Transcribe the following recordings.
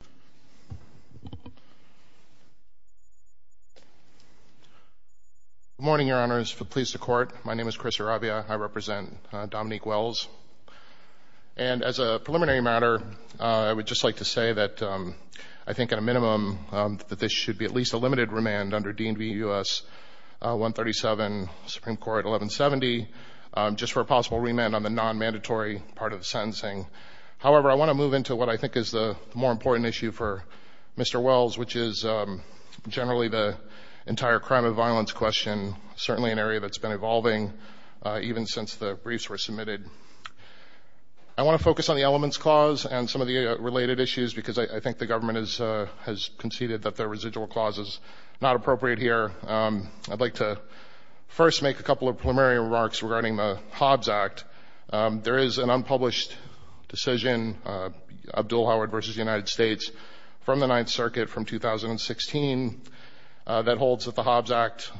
Good morning, your honors. If it pleases the court, my name is Chris Aravia. I represent Dominque Wells. And as a preliminary matter, I would just like to say that I think at a minimum that this should be at least a limited remand under D.N.V. U.S. 137, Supreme Court 1170, just for a possible remand on the non-mandatory part of the sentencing. However, I want to move into what I think is the more important issue for Mr. Wells, which is generally the entire crime and violence question, certainly an area that's been evolving even since the briefs were submitted. I want to focus on the elements clause and some of the related issues because I think the government has conceded that the residual clause is not appropriate here. I'd like to first make a couple of preliminary remarks regarding the Hobbs Act. There is an unpublished decision, Abdul Howard v. United States, from the Ninth Circuit from 2016 that holds that the Hobbs Act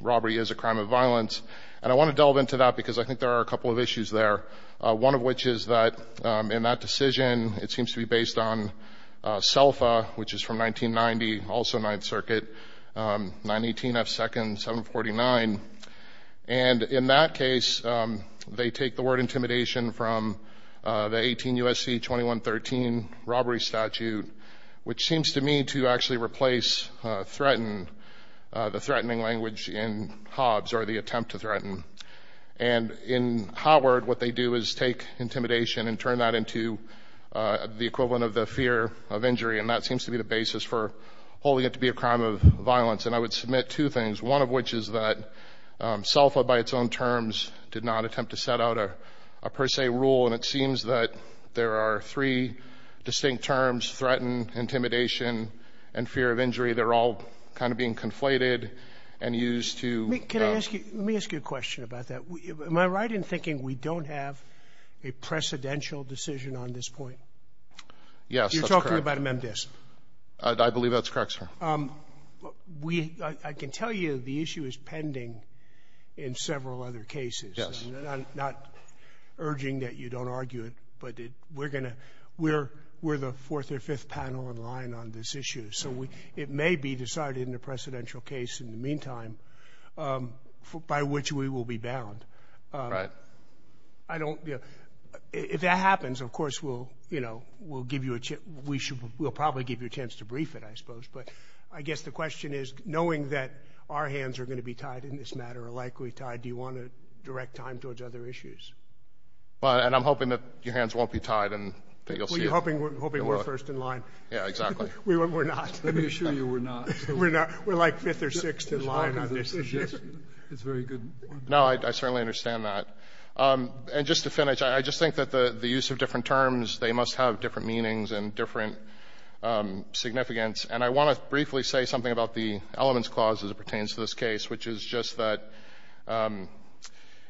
robbery is a crime of violence. And I want to delve into that because I think there are a couple of issues there, one of which is that in that decision, it seems to be based on CELFA, which is from 1990, also Ninth Circuit, 918 F. Second 749. And in that case, they take the word intimidation from the 18 U.S.C. 2113 robbery statute, which seems to me to actually replace threaten, the threatening language in Hobbs or the attempt to threaten. And in Howard, what they do is take intimidation and turn that into the equivalent of the fear of injury, and that seems to be the basis for holding it to be a crime of violence. And I would submit two things, one of which is that CELFA, by its own terms, did not attempt to set out a per se rule, and it seems that there are three distinct terms, threaten, intimidation, and fear of injury. They're all kind of being conflated and used to ‑‑ Let me ask you a question about that. Am I right in thinking we don't have a precedential decision on this point? Yes, that's correct. You're talking about amend this? I believe that's correct, sir. I can tell you the issue is pending in several other cases. Yes. I'm not urging that you don't argue it, but we're going to ‑‑ we're the fourth or fifth panel in line on this issue, so it may be decided in a precedential case in the meantime by which we will be bound. Right. I don't ‑‑ if that happens, of course, we'll give you a ‑‑ we'll probably give you a chance to brief it, I suppose, but I guess the question is, knowing that our hands are going to be tied in this matter, or likely tied, do you want to direct time towards other issues? And I'm hoping that your hands won't be tied and that you'll see it. Well, you're hoping we're first in line. Yeah, exactly. We're not. Let me assure you we're not. We're not. We're like fifth or sixth in line on this issue. It's very good. No, I certainly understand that. And just to finish, I just think that the use of different terms, they must have different meanings and different significance. And I want to briefly say something about the elements clause as it pertains to this case, which is just that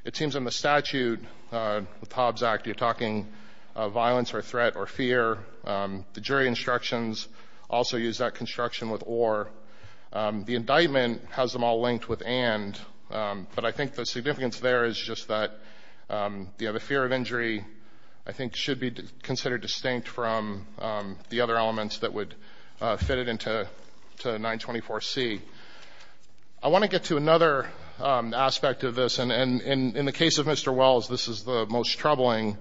it seems in the statute, with Hobbs Act, you're talking violence or threat or fear. The jury instructions also use that construction with or. The indictment has them all linked with and. But I think the significance there is just that the fear of injury, I think, should be considered distinct from the other elements that would fit it into 924 C. I want to get to another aspect of this. And in the case of Mr. Wells, this is the most troubling.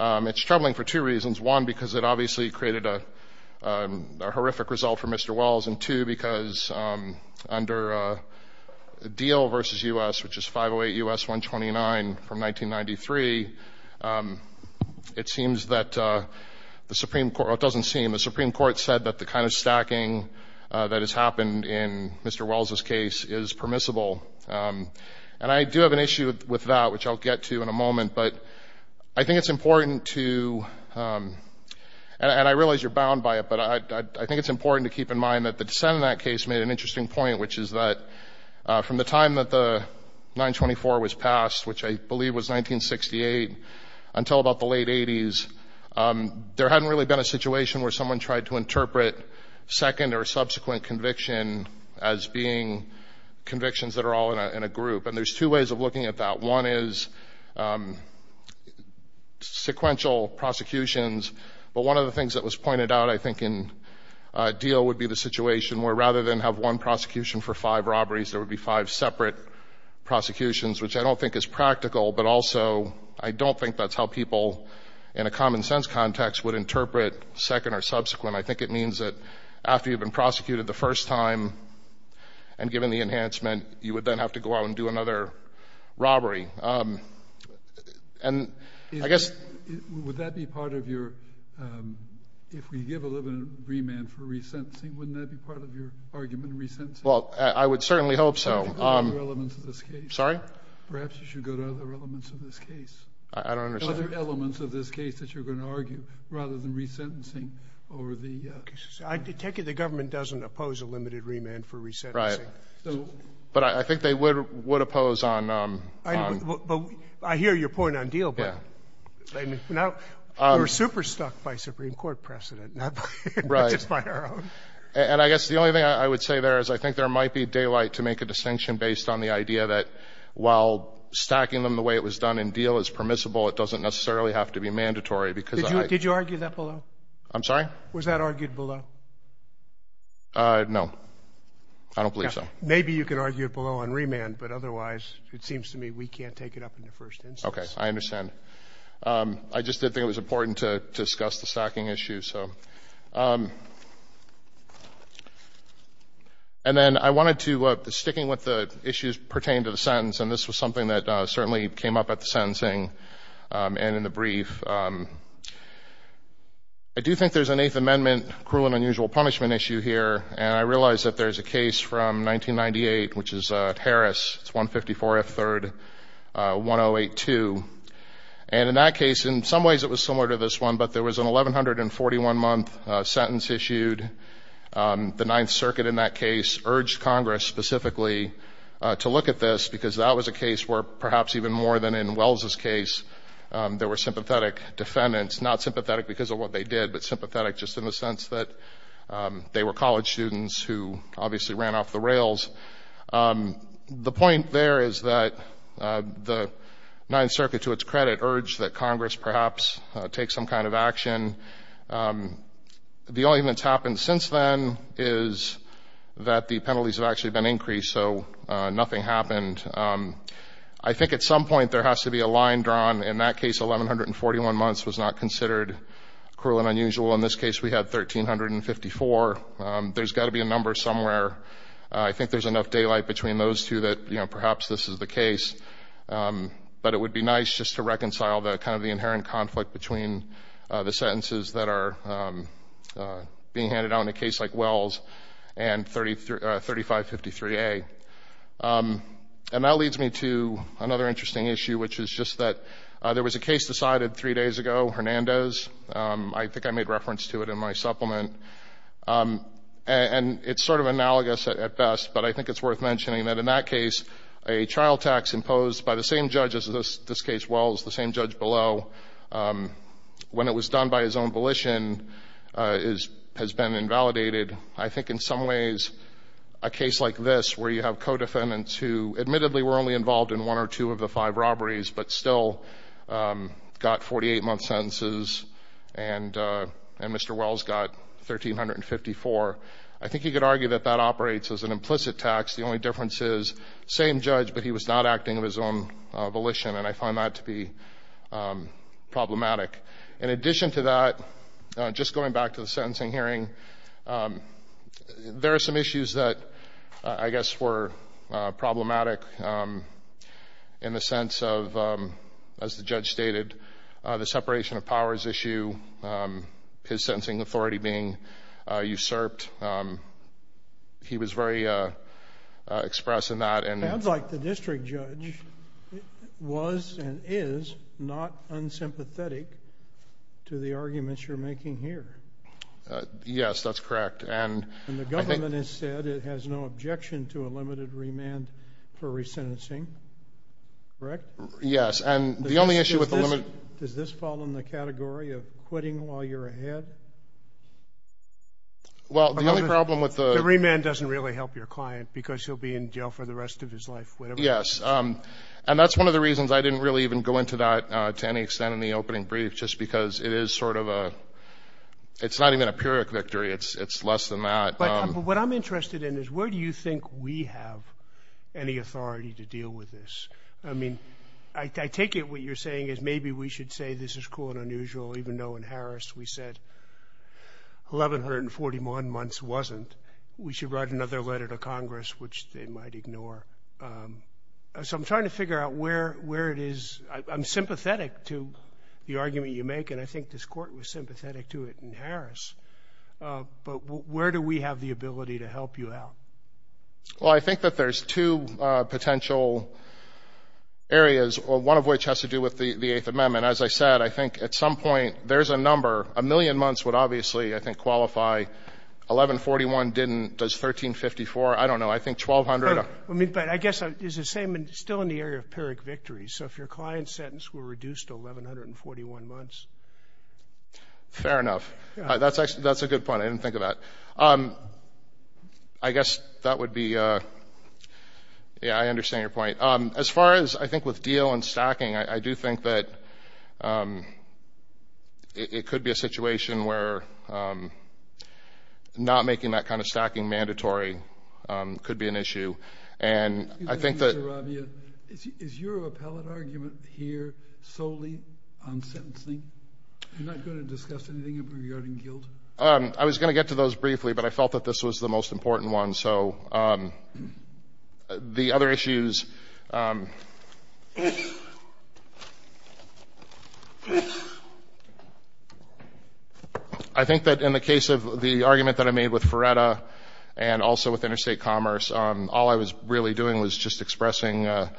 It's troubling for two reasons. One, because it obviously created a horrific result for Mr. Wells. And two, because under the deal versus U.S., which is 508 U.S. 129 from 1993. It seems that the Supreme Court, it doesn't seem the Supreme Court said that the kind of stacking that has happened in Mr. Wells's case is permissible. And I do have an issue with that, which I'll get to in a moment. But I think it's important to and I realize you're bound by it, but I think it's important to keep in mind that the dissent in that case made an interesting point, which is that from the time that the 924 was passed, which I believe was 1968 until about the late 80s, there hadn't really been a situation where someone tried to interpret second or subsequent conviction as being convictions that are all in a group. And there's two ways of looking at that. One is sequential prosecutions. But one of the things that was pointed out, I think, in a deal would be the situation where rather than have one prosecution for five robberies, there would be five separate prosecutions, which I don't think is practical. But also, I don't think that's how people in a common-sense context would interpret second or subsequent. I think it means that after you've been prosecuted the first time and given the enhancement, you would then have to go out and do another robbery. And I guess — If we give a limited remand for re-sentencing, wouldn't that be part of your argument, re-sentencing? Well, I would certainly hope so. Perhaps you should go to other elements of this case. Sorry? Perhaps you should go to other elements of this case. I don't understand. Other elements of this case that you're going to argue, rather than re-sentencing over the — I take it the government doesn't oppose a limited remand for re-sentencing. Right. But I think they would oppose on — I hear your point on deal, but — Yeah. Now, we're super-stuck by Supreme Court precedent, not just by our own. And I guess the only thing I would say there is I think there might be daylight to make a distinction based on the idea that while stacking them the way it was done in deal is permissible, it doesn't necessarily have to be mandatory, because — Did you argue that below? I'm sorry? Was that argued below? No. I don't believe so. Maybe you could argue it below on remand, but otherwise, it seems to me we can't take it up in the first instance. Okay. I understand. I just did think it was important to discuss the stacking issue, so — And then I wanted to — sticking with the issues pertaining to the sentence, and this was something that certainly came up at the sentencing and in the brief, I do think there's an Eighth Amendment cruel and unusual punishment issue here, and I realize that there's a case from 1998, which is Harris, it's 154 F. 3rd, 108.2. And in that case, in some ways it was similar to this one, but there was an 1,141-month sentence issued. The Ninth Circuit in that case urged Congress specifically to look at this, because that was a case where perhaps even more than in Wells' case, there were sympathetic defendants, not sympathetic because of what they did, but sympathetic just in the sense that they were college students who obviously ran off the rails. The point there is that the Ninth Circuit, to its credit, urged that Congress perhaps take some kind of action. The only thing that's happened since then is that the penalties have actually been increased, so nothing happened. I think at some point there has to be a line drawn. In that case, 1,141 months was not considered cruel and unusual. In this case, we had 1,354. There's got to be a number somewhere. I think there's enough daylight between those two that, you know, perhaps this is the case. But it would be nice just to reconcile the kind of the inherent conflict between the sentences that are being handed out in a case like Wells' and 3553A. And that leads me to another interesting issue, which is just that there was a case decided three days ago, Hernandez. I think I made reference to it in my supplement. And it's sort of analogous at best, but I think it's worth mentioning that in that case, a trial tax imposed by the same judge as this case, Wells, the same judge below, when it was done by his own volition, has been invalidated. I think in some ways, a case like this, where you have co-defendants who admittedly were only involved in one or two of the five robberies, but still got 48-month sentences, and Mr. Wells got 1,354, I think you could argue that that operates as an implicit tax. The only difference is, same judge, but he was not acting of his own volition. And I find that to be problematic. In addition to that, just going back to the sentencing hearing, there are some issues that I guess were problematic in the sense of, as the judge stated, the separation of powers issue, his sentencing authority being usurped. He was very express in that. It sounds like the district judge was and is not unsympathetic to the arguments you're making here. Yes, that's correct. And the government has said it has no objection to a limited remand for resentencing, correct? Yes. Does this fall in the category of quitting while you're ahead? The remand doesn't really help your client, because he'll be in jail for the rest of his life. Yes. And that's one of the reasons I didn't really even go into that to any extent in the opening brief, just because it's not even a periodic victory. It's less than that. But what I'm interested in is where do you think we have any authority to deal with this? I mean, I take it what you're saying is maybe we should say this is cool and unusual, even though in Harris we said 1,141 months wasn't. We should write another letter to Congress, which they might ignore. So I'm trying to figure out where it is. I'm sympathetic to the argument you make, and I think this court was sympathetic to it in Harris. But where do we have the ability to help you out? Well, I think that there's two potential areas, one of which has to do with the Eighth Amendment. As I said, I think at some point there's a number. A million months would obviously, I think, qualify. 1,141 didn't. Does 1,354? I don't know. I think 1,200. But I guess it's the same, still in the area of periodic victories. So if your client's sentence were reduced to 1,141 months. Fair enough. That's a good point. I didn't think of that. I guess that would be, yeah, I understand your point. As far as, I think, with deal and stacking, I do think that it could be a situation where not making that kind of stacking mandatory could be an issue. And I think that... You're not going to discuss anything regarding guilt? I was going to get to those briefly, but I felt that this was the most important one. So the other issues... I think that in the case of the argument that I made with Ferretta and also with Interstate Commerce, all I was really doing was just expressing that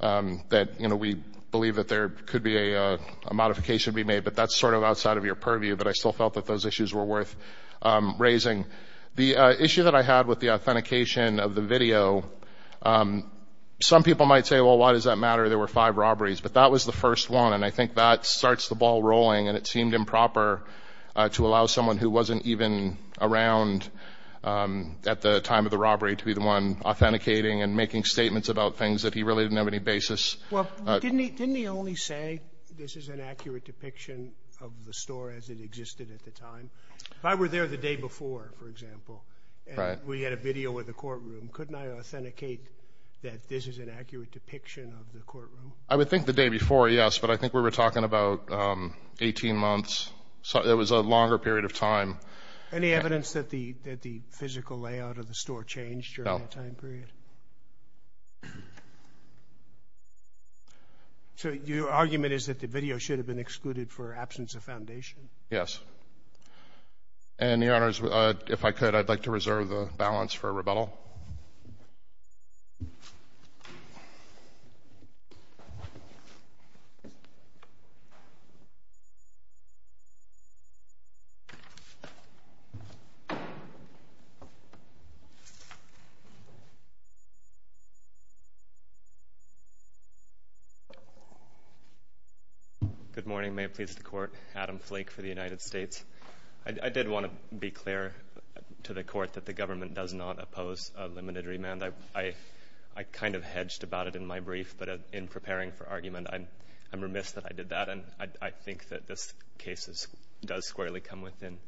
we believe that there could be a modification to be made. But that's sort of outside of your purview, but I still felt that those issues were worth raising. The issue that I had with the authentication of the video, some people might say, well, why does that matter? There were five robberies. But that was the first one. And I think that starts the ball rolling and it seemed improper to allow someone who wasn't even around at the time of the robbery to be the one authenticating and making statements about things that he really didn't have any basis. Well, didn't he only say this is an accurate depiction of the store as it existed at the time? If I were there the day before, for example, and we had a video with the courtroom, couldn't I authenticate that this is an accurate depiction of the courtroom? I would think the day before, yes. But I think we were talking about 18 months, so it was a longer period of time. Any evidence that the physical layout of the store changed during that time period? No. So your argument is that the video should have been excluded for absence of foundation? Yes. And, Your Honors, if I could, I'd like to reserve the balance for rebuttal. Good morning. May it please the Court. Adam Flake for the United States. I did want to be clear to the Court that the government does not oppose a limited remand. I kind of hedged about it in my brief, but in preparing for argument, I'm remiss that I did that. And I think that this case does squarely come within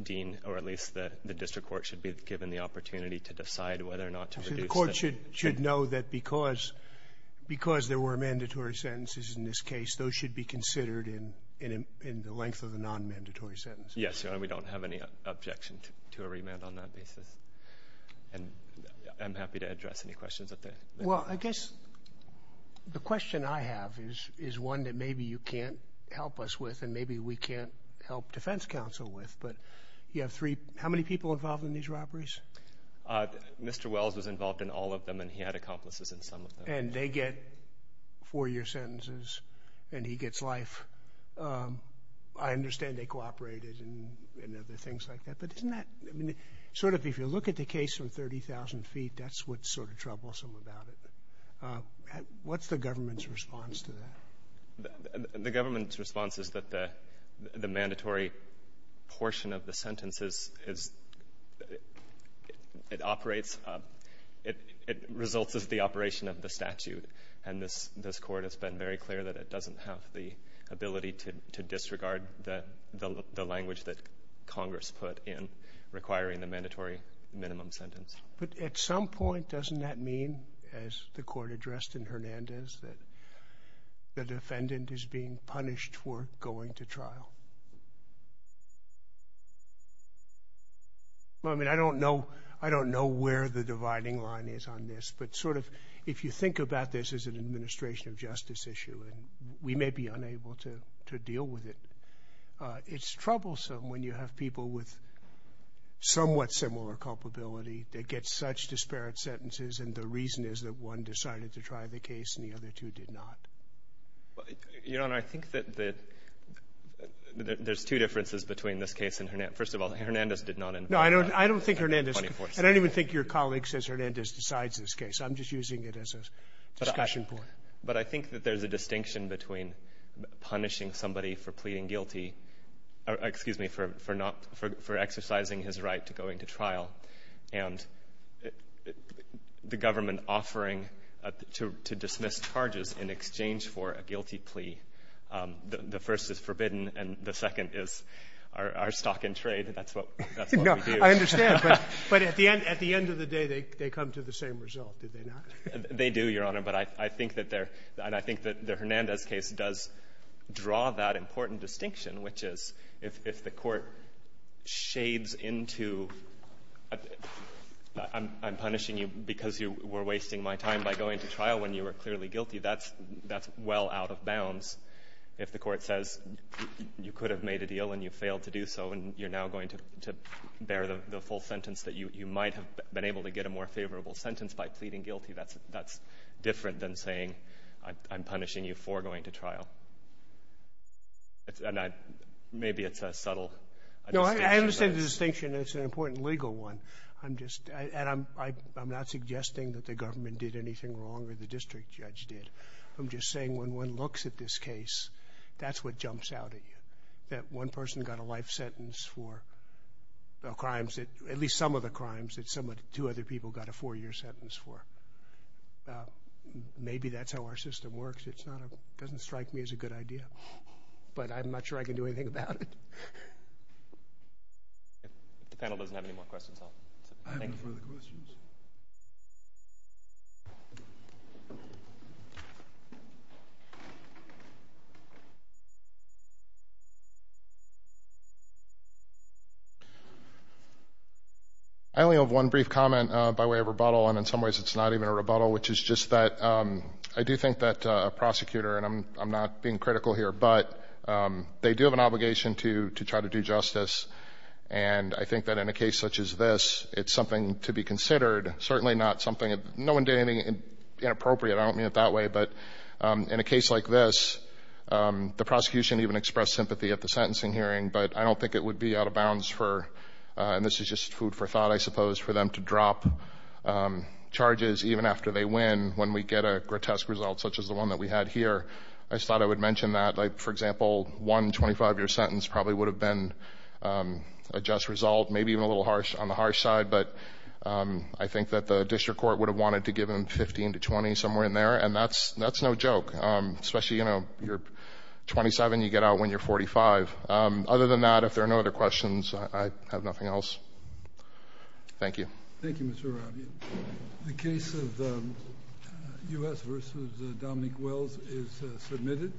Dean, or at least the district court should be given the opportunity to decide whether or not to reduce it. So the Court should know that because there were mandatory sentences in this case, those should be considered in the length of the non-mandatory sentence? Yes, Your Honor. We don't have any objection to a remand on that basis. And I'm happy to address any questions that they may have. Well, I guess the question I have is one that maybe you can't help us with, and maybe we can't help defense counsel with, but you have three. How many people involved in these robberies? Mr. Wells was involved in all of them, and he had accomplices in some of them. And they get four-year sentences, and he gets life. I understand they cooperated in other things like that, but isn't that sort of, if you look at the case from 30,000 feet, that's what's sort of troublesome about it. What's the government's response to that? The government's response is that the mandatory portion of the sentence is, it operates, it results as the operation of the statute. And this Court has been very clear that it doesn't have the ability to disregard the language that Congress put in requiring the mandatory minimum sentence. But at some point, doesn't that mean, as the Court addressed in Hernandez, that the defendant is being punished for going to trial? Well, I mean, I don't know where the dividing line is on this, but sort of, if you think about this as an administration of justice issue, and we may be unable to deal with it, it's troublesome when you have people with somewhat similar culpability that get such disparate sentences, and the reason is that one decided to try the case, and the other two did not. Your Honor, I think that there's two differences between this case and Hernandez. First of all, Hernandez did not invent that 24-7. No, I don't think Hernandez, I don't even think your colleague says Hernandez decides this case. I'm just using it as a discussion point. But I think that there's a distinction between punishing somebody for pleading guilty or, excuse me, for exercising his right to go into trial and the government offering to dismiss charges in exchange for a guilty plea. The first is forbidden, and the second is our stock in trade. That's what we do. No, I understand. But at the end of the day, they come to the same result, do they not? They do, Your Honor. But I think that they're — and I think that the Hernandez case does draw that important distinction, which is if the Court shades into I'm punishing you because you were wasting my time by going to trial when you were clearly guilty, that's well out of bounds. If the Court says you could have made a deal and you failed to do so and you're now going to bear the full sentence that you might have been able to get a more favorable sentence by pleading guilty, that's different than saying I'm punishing you for going to trial. Maybe it's a subtle distinction. No, I understand the distinction. It's an important legal one. I'm just — and I'm not suggesting that the government did anything wrong or the district judge did. I'm just saying when one looks at this case, that's what jumps out at you, that one person got a life sentence for the crimes that — at least some of the crimes that two other people got a four-year sentence for. Maybe that's how our system works. It's not a — it doesn't strike me as a good idea, but I'm not sure I can do anything about it. If the panel doesn't have any more questions, I'll — I have no further questions. I only have one brief comment by way of rebuttal, and in some ways it's not even a rebuttal, which is just that I do think that a prosecutor — and I'm not being critical here — but they do have an obligation to try to do justice. And I think that in a case such as this, it's something to be considered. Certainly not something — no one did anything inappropriate. I don't mean it that way. But in a case like this, the prosecution even expressed sympathy at the sentencing hearing, but I don't think it would be out of bounds for — and this is just food for thought, I suppose — for them to drop charges even after they win when we get a grotesque result such as the one that we had here. I just thought I would mention that. Like, for example, one 25-year sentence probably would have been a just result, maybe even a little harsh on the harsh side, but I think that the district court would have wanted to give them 15 to 20, somewhere in there. And that's no joke, especially, you know, you're 27, you get out when you're 45. Other than that, if there are no other questions, I have nothing else. Thank you. Thank you, Mr. Rabia. The case of U.S. v. Dominique Wells is submitted.